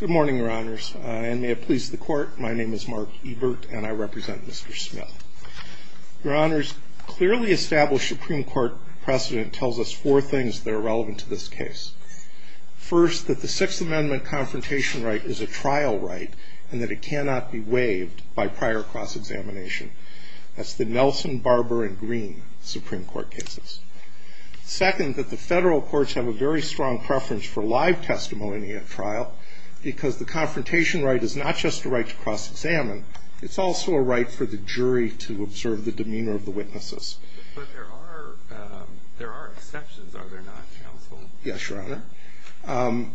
Good morning, your honors, and may it please the court. My name is Mark Ebert and I represent Mr. Smith. Your honors, clearly established Supreme Court precedent tells us four things that are relevant to this case. First, that the Sixth Amendment confrontation right is a trial right and that it cannot be waived by prior cross-examination. That's the Nelson, Barber, and Green Supreme Court cases. Second, that the federal courts have a very strong preference for live testimony at trial because the confrontation right is not just a right to cross-examine. It's also a right for the jury to observe the demeanor of the witnesses. But there are exceptions, are there not, counsel? Yes, your honor.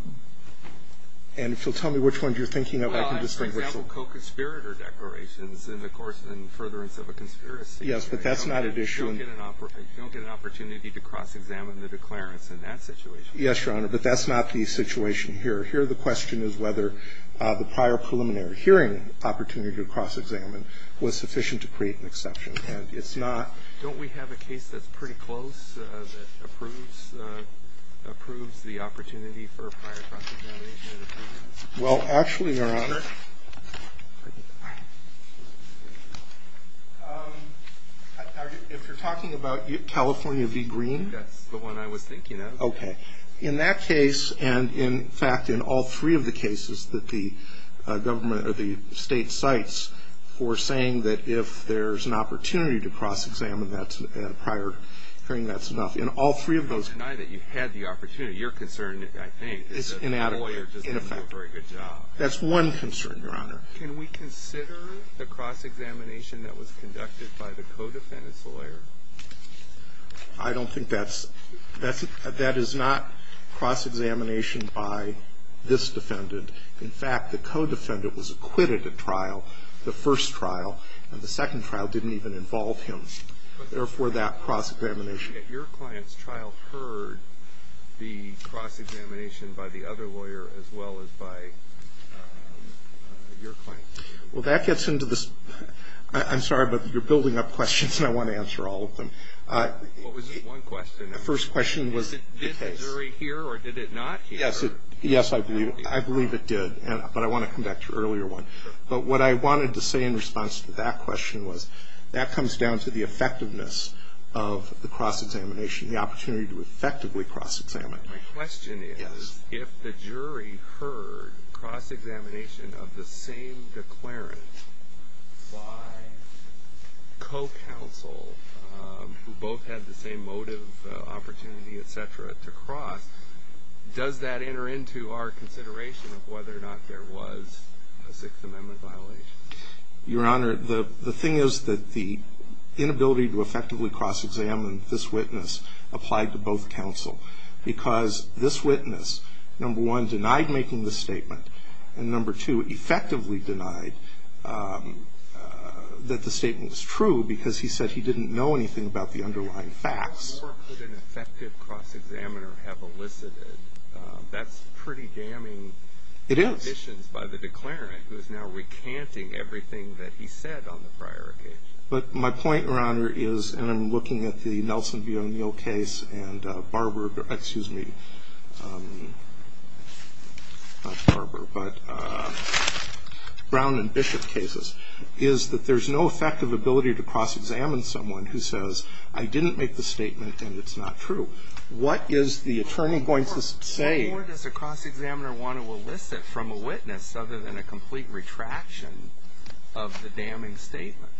And if you'll tell me which ones you're thinking of, I can just think which ones. For example, co-conspirator declarations in the course and furtherance of a conspiracy. Yes, but that's not an issue. You don't get an opportunity to cross-examine the declarants in that situation. Yes, your honor, but that's not the situation here. Here the question is whether the prior preliminary hearing opportunity to cross-examine was sufficient to create an exception. And it's not. Don't we have a case that's pretty close that approves the opportunity for prior cross-examination? Well, actually, your honor. If you're talking about California v. Green? That's the one I was thinking of. Okay. In that case and, in fact, in all three of the cases that the government or the state cites for saying that if there's an opportunity to cross-examine prior hearing, that's enough. In all three of those cases. I would deny that you had the opportunity. Your concern, I think, is that the lawyer doesn't do a very good job. In effect. That's one concern. That's one concern, your honor. Can we consider the cross-examination that was conducted by the co-defendant's lawyer? I don't think that's. That is not cross-examination by this defendant. In fact, the co-defendant was acquitted at trial, the first trial, and the second trial didn't even involve him. Therefore, that cross-examination. I believe that your client's trial heard the cross-examination by the other lawyer as well as by your client. Well, that gets into this. I'm sorry, but you're building up questions, and I want to answer all of them. What was this one question? The first question was the case. Did the jury hear or did it not hear? Yes, I believe it did, but I want to come back to an earlier one. But what I wanted to say in response to that question was that comes down to the cross-examination, the opportunity to effectively cross-examine. My question is if the jury heard cross-examination of the same declarant by co-counsel who both had the same motive, opportunity, et cetera, to cross, does that enter into our consideration of whether or not there was a Sixth Amendment violation? Your Honor, the thing is that the inability to effectively cross-examine this witness applied to both counsel because this witness, number one, denied making the statement, and number two, effectively denied that the statement was true because he said he didn't know anything about the underlying facts. What more could an effective cross-examiner have elicited? That's pretty damning. It is. But my point, Your Honor, is, and I'm looking at the Nelson v. O'Neill case and Barbara, excuse me, not Barbara, but Brown and Bishop cases, is that there's no effective ability to cross-examine someone who says I didn't make the statement and it's not true. What is the attorney going to say? What more does a cross-examiner want to elicit from a witness other than a complete retraction of the damning statement?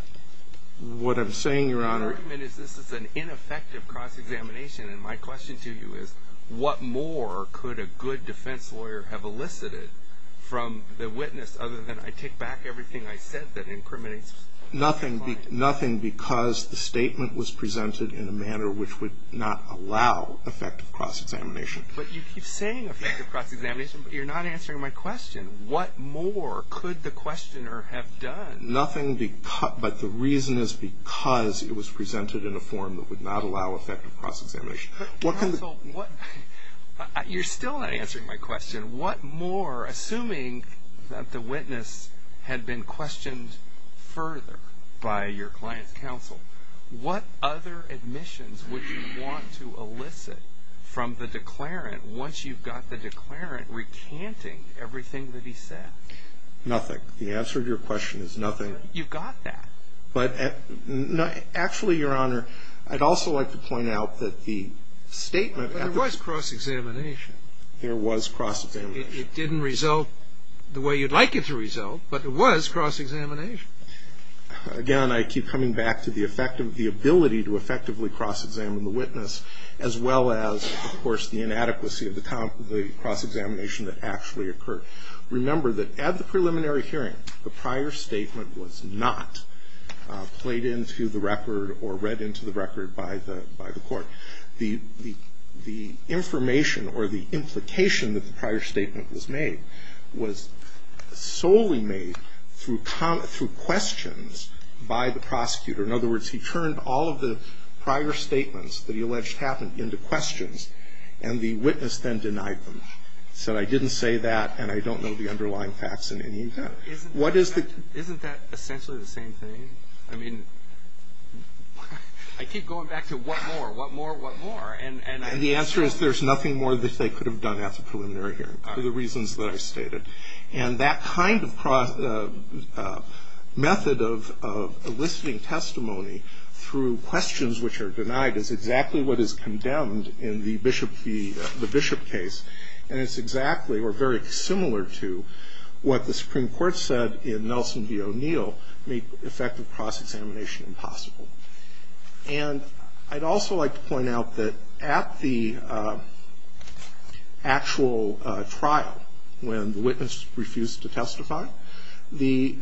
What I'm saying, Your Honor. The argument is this is an ineffective cross-examination, and my question to you is what more could a good defense lawyer have elicited from the witness other than I take back everything I said that incriminates my client. Nothing because the statement was presented in a manner which would not allow effective cross-examination. But you keep saying effective cross-examination, but you're not answering my question. What more could the questioner have done? Nothing but the reason is because it was presented in a form that would not allow effective cross-examination. You're still not answering my question. What more, assuming that the witness had been questioned further by your client's What other admissions would you want to elicit from the declarant once you've got the declarant recanting everything that he said? Nothing. The answer to your question is nothing. You've got that. But actually, Your Honor, I'd also like to point out that the statement at the But there was cross-examination. There was cross-examination. It didn't result the way you'd like it to result, but there was cross-examination. Again, I keep coming back to the ability to effectively cross-examine the witness, as well as, of course, the inadequacy of the cross-examination that actually occurred. Remember that at the preliminary hearing, the prior statement was not played into the record or read into the record by the court. The information or the implication that the prior statement was made was solely made through questions by the prosecutor. In other words, he turned all of the prior statements that he alleged happened into questions, and the witness then denied them, said, I didn't say that, and I don't know the underlying facts in any event. Isn't that essentially the same thing? I mean, I keep going back to what more, what more, what more. And the answer is there's nothing more that they could have done at the preliminary hearing for the reasons that I stated. And that kind of method of eliciting testimony through questions which are denied is exactly what is condemned in the Bishop case, and it's exactly or very similar to what the Supreme Court said in Nelson v. O'Neill, make effective cross-examination impossible. And I'd also like to point out that at the actual trial, when the witness refused to testify, the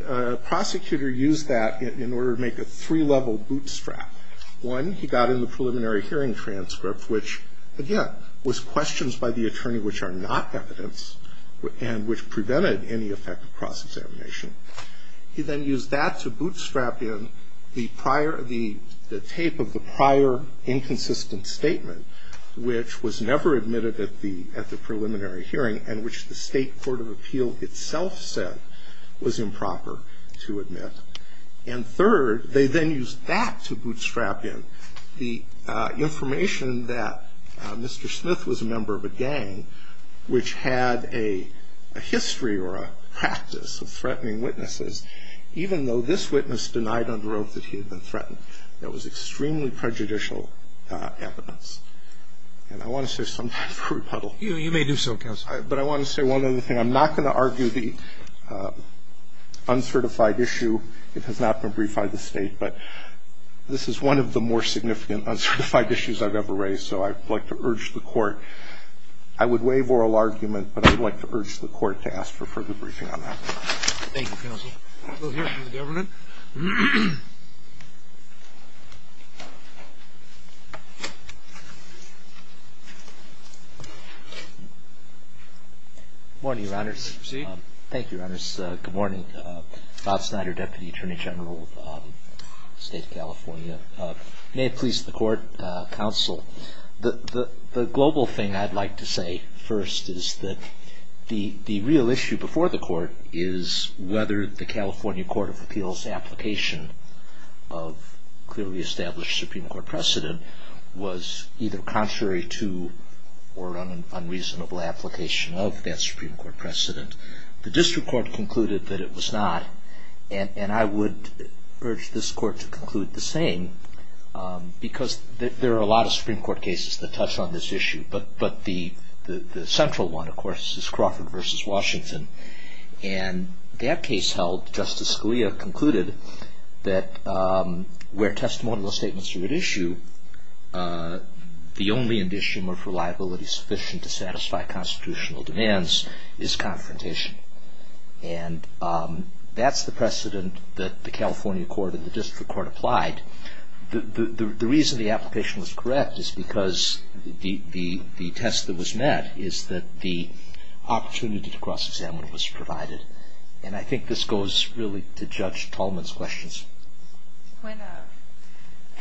prosecutor used that in order to make a three-level bootstrap. One, he got in the preliminary hearing transcript, which, again, was questions by the attorney which are not evidence and which prevented any effective cross-examination. He then used that to bootstrap in the prior, the tape of the prior inconsistent statement, which was never admitted at the preliminary hearing and which the State Court of Appeal itself said was improper to admit. And third, they then used that to bootstrap in the information that Mr. Smith was a member of a gang which had a history or a practice of threatening witnesses, even though this witness denied under oath that he had been threatened. That was extremely prejudicial evidence. And I want to say something for rebuttal. You may do so, counsel. But I want to say one other thing. I'm not going to argue the uncertified issue. It has not been briefed by the State, but this is one of the more significant uncertified issues I've ever raised, so I'd like to urge the Court. I would waive oral argument, but I would like to urge the Court to ask for further briefing on that. Thank you, counsel. We'll hear from the government. Good morning, Your Honors. Thank you, Your Honors. Good morning. Bob Snyder, Deputy Attorney General of the State of California. May it please the Court, counsel, The global thing I'd like to say first is that the real issue before the Court is whether the California Court of Appeals application of clearly established Supreme Court precedent was either contrary to or an unreasonable application of that Supreme Court precedent. The District Court concluded that it was not, and I would urge this Court to conclude the same because there are a lot of Supreme Court cases that touch on this issue, but the central one, of course, is Crawford v. Washington, and that case held, Justice Scalia concluded that where testimonial statements are at issue, the only indicium of reliability sufficient to satisfy constitutional demands is confrontation, and that's the precedent that the California Court and the District Court applied. The reason the application was correct is because the test that was met is that the opportunity to cross-examine was provided, and I think this goes really to Judge Tallman's questions.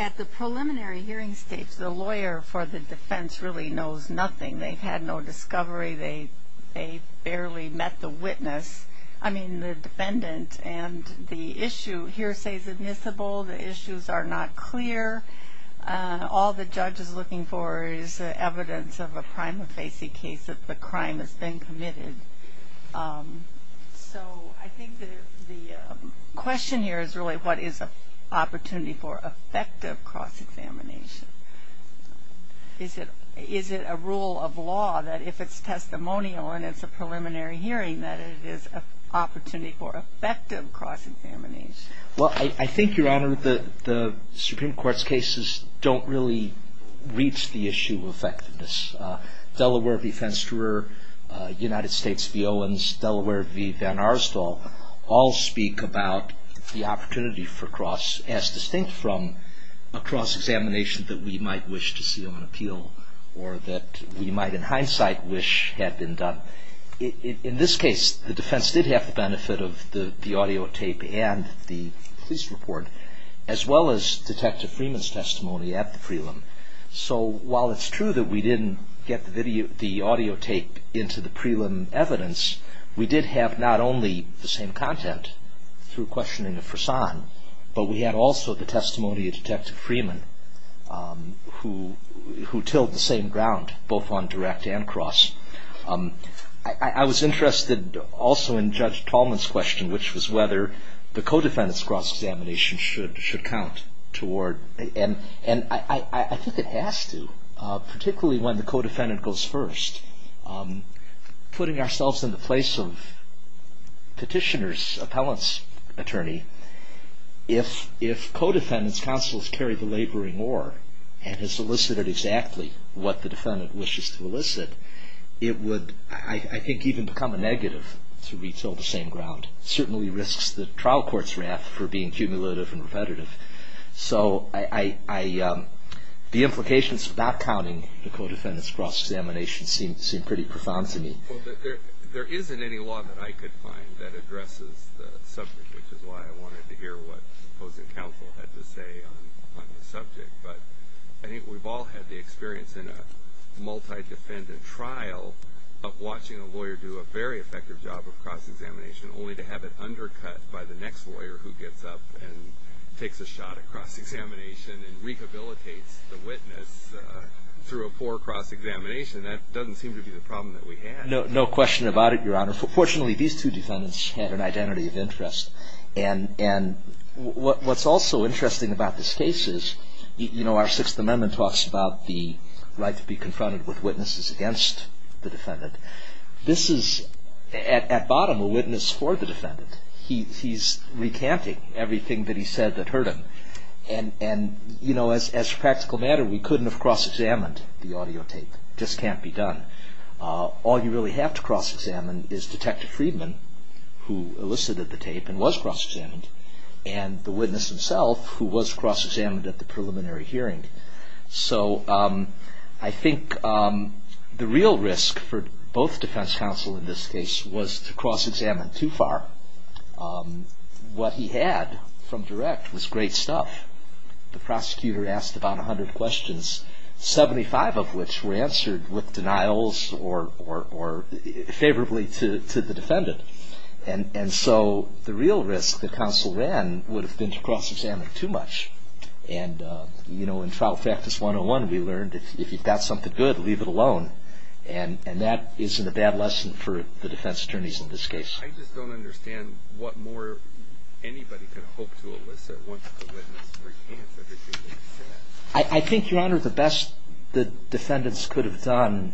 At the preliminary hearing stage, the lawyer for the defense really knows nothing. They've had no discovery. They barely met the witness. I mean, the defendant and the issue, hearsay is admissible. The issues are not clear. All the judge is looking for is evidence of a prima facie case that the crime has been committed. So I think the question here is really, what is an opportunity for effective cross-examination? Is it a rule of law that if it's testimonial and it's a preliminary hearing that it is an opportunity for effective cross-examination? Well, I think, Your Honor, the Supreme Court's cases don't really reach the issue of effectiveness. Delaware v. Fensterer, United States v. Owens, Delaware v. Van Aerstal all speak about the opportunity for cross- as distinct from a cross-examination that we might wish to see on appeal or that we might, in hindsight, wish had been done. In this case, the defense did have the benefit of the audio tape and the police report, as well as Detective Freeman's testimony at the prelim. So while it's true that we didn't get the audio tape into the prelim evidence, we did have not only the same content through questioning of Frasan, but we had also the testimony of Detective Freeman, who tilled the same ground, both on direct and cross. I was interested also in Judge Tallman's question, which was whether the co-defendant's cross-examination should count toward- and I think it has to, particularly when the co-defendant goes first. Putting ourselves in the place of petitioner's appellant's attorney, if co-defendant's counsel has carried the laboring oar and has elicited exactly what the defendant wishes to elicit, it would, I think, even become a negative to retell the same ground. It certainly risks the trial court's wrath for being cumulative and repetitive. So the implications of not counting the co-defendant's cross-examination seem pretty profound to me. There isn't any law that I could find that addresses the subject, which is why I wanted to hear what opposing counsel had to say on the subject. But I think we've all had the experience in a multi-defendant trial of watching a lawyer do a very effective job of cross-examination, only to have it undercut by the next lawyer who gets up and takes a shot at cross-examination and rehabilitates the witness through a poor cross-examination. And that doesn't seem to be the problem that we have. No question about it, Your Honor. Fortunately, these two defendants had an identity of interest. And what's also interesting about this case is, you know, our Sixth Amendment talks about the right to be confronted with witnesses against the defendant. This is, at bottom, a witness for the defendant. He's recanting everything that he said that hurt him. And, you know, as a practical matter, we couldn't have cross-examined the audio tape. It just can't be done. All you really have to cross-examine is Detective Friedman, who elicited the tape and was cross-examined, and the witness himself, who was cross-examined at the preliminary hearing. So I think the real risk for both defense counsel in this case was to cross-examine too far. What he had from direct was great stuff. The prosecutor asked about 100 questions, 75 of which were answered with denials or favorably to the defendant. And so the real risk that counsel ran would have been to cross-examine too much. And, you know, in Trial Practice 101, we learned, if you've got something good, leave it alone. And that isn't a bad lesson for the defense attorneys in this case. I just don't understand what more anybody can hope to elicit once the witness recants everything they've said. I think, Your Honor, the best the defendants could have done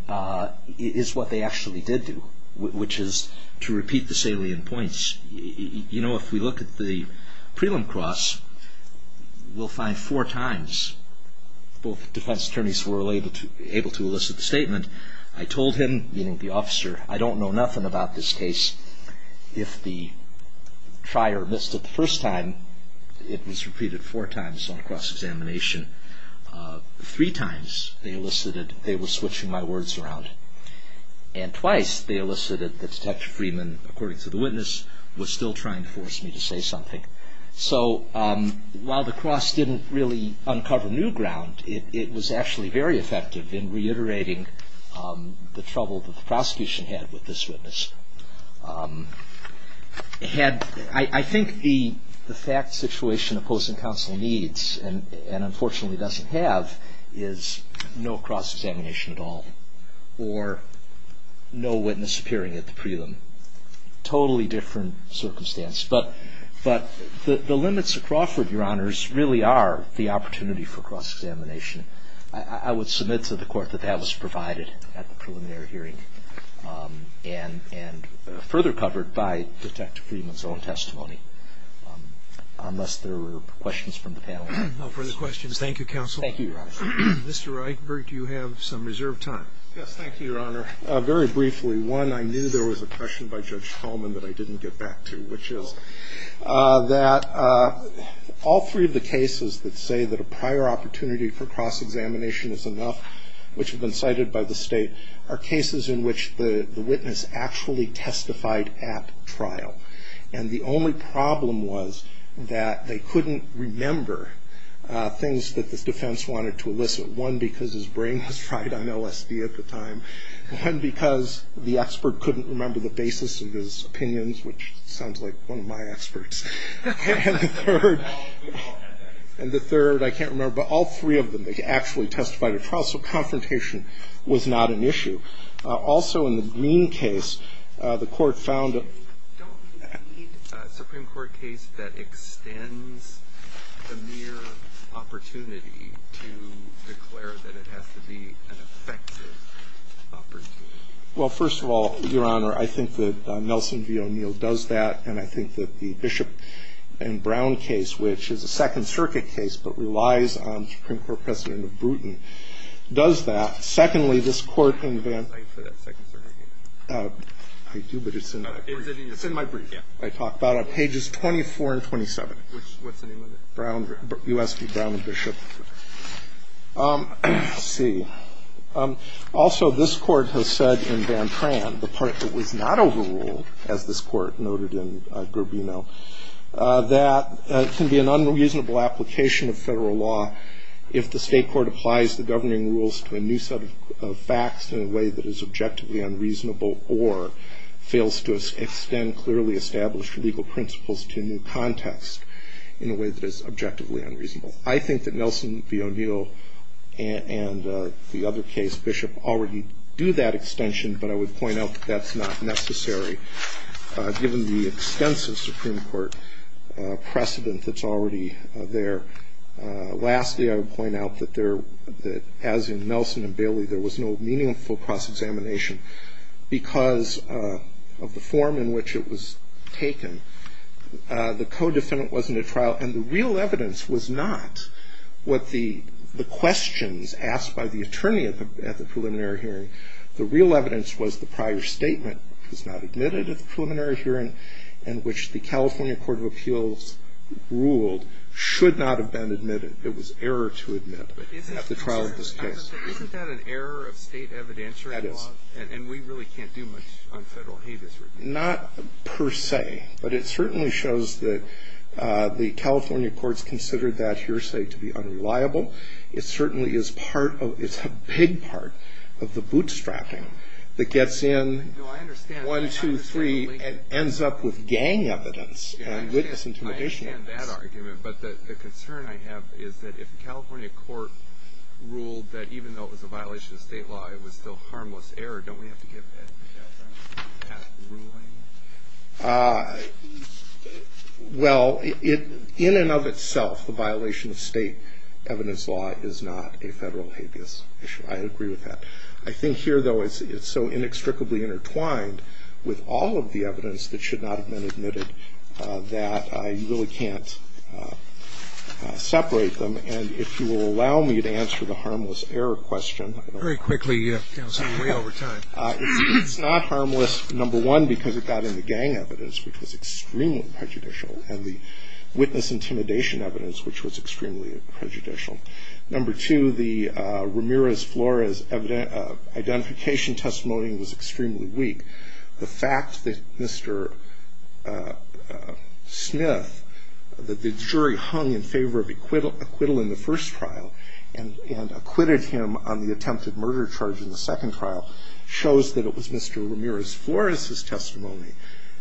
is what they actually did do, which is to repeat the salient points. You know, if we look at the prelim cross, we'll find four times both defense attorneys were able to elicit the statement, I told him, meaning the officer, I don't know nothing about this case. If the trier missed it the first time, it was repeated four times on cross-examination. Three times they elicited they were switching my words around. And twice they elicited that Detective Freeman, according to the witness, was still trying to force me to say something. So while the cross didn't really uncover new ground, it was actually very effective in reiterating the trouble that the prosecution had with this witness. I think the fact situation opposing counsel needs, and unfortunately doesn't have, is no cross-examination at all, or no witness appearing at the prelim. But the limits of Crawford, Your Honors, really are the opportunity for cross-examination. I would submit to the court that that was provided at the preliminary hearing and further covered by Detective Freeman's own testimony, unless there were questions from the panel. No further questions. Thank you, counsel. Thank you, Your Honor. Mr. Reitberg, do you have some reserved time? Yes, thank you, Your Honor. Very briefly, one, I knew there was a question by Judge Hullman that I didn't get back to, which is that all three of the cases that say that a prior opportunity for cross-examination is enough, which have been cited by the state, are cases in which the witness actually testified at trial. And the only problem was that they couldn't remember things that the defense wanted to elicit. One, because his brain was fried on LSD at the time. One, because the expert couldn't remember the basis of his opinions, which sounds like one of my experts. And the third, I can't remember, but all three of them, they actually testified at trial, so confrontation was not an issue. Also, in the Green case, the court found a — Don't you need a Supreme Court case that extends the mere opportunity to declare that it has to be an effective opportunity? Well, first of all, Your Honor, I think that Nelson v. O'Neill does that, and I think that the Bishop and Brown case, which is a Second Circuit case but relies on Supreme Court precedent of Bruton, does that. Secondly, this Court invented — Thank you for that Second Circuit case. I do, but it's in my brief. It's in my brief, yeah. I talk about it on pages 24 and 27. Which — what's the name of it? Brown — U.S. v. Brown v. Bishop. Let's see. Also, this Court has said in Van Tran the part that was not overruled, as this Court noted in Garbino, that it can be an unreasonable application of federal law if the state court applies the governing rules to a new set of facts in a way that is objectively unreasonable or fails to extend clearly established legal principles to a new context in a way that is objectively unreasonable. I think that Nelson v. O'Neill and the other case, Bishop, already do that extension, but I would point out that that's not necessary given the extensive Supreme Court precedent that's already there. Lastly, I would point out that there — that as in Nelson and Bailey, there was no meaningful cross-examination because of the form in which it was taken. The co-defendant wasn't at trial, and the real evidence was not what the questions asked by the attorney at the preliminary hearing. The real evidence was the prior statement was not admitted at the preliminary hearing and which the California Court of Appeals ruled should not have been admitted. It was error to admit at the trial of this case. Isn't that an error of state evidentiary law? That is. And we really can't do much on federal habeas review. Not per se, but it certainly shows that the California courts considered that hearsay to be unreliable. It certainly is part of — it's a big part of the bootstrapping that gets in one, two, three, and ends up with gang evidence and witness intimidation. I understand that argument, but the concern I have is that if the California court ruled that even though it was a violation of state law, it was still harmless error, don't we have to give that ruling? Well, in and of itself, the violation of state evidence law is not a federal habeas issue. I agree with that. I think here, though, it's so inextricably intertwined with all of the evidence that should not have been admitted that you really can't separate them. And if you will allow me to answer the harmless error question. Very quickly, Counsel. We're way over time. It's not harmless, number one, because it got in the gang evidence, which was extremely prejudicial, and the witness intimidation evidence, which was extremely prejudicial. Number two, the Ramirez-Flores identification testimony was extremely weak. The fact that Mr. Smith, that the jury hung in favor of acquittal in the first trial and acquitted him on the attempted murder charge in the second trial shows that it was Mr. Ramirez-Flores' testimony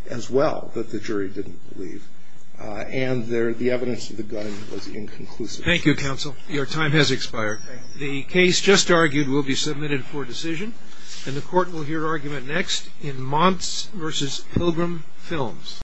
as well that the jury didn't believe. And the evidence of the gunning was inconclusive. Thank you, Counsel. Your time has expired. The case just argued will be submitted for decision, and the court will hear argument next in Monts v. Pilgrim Films.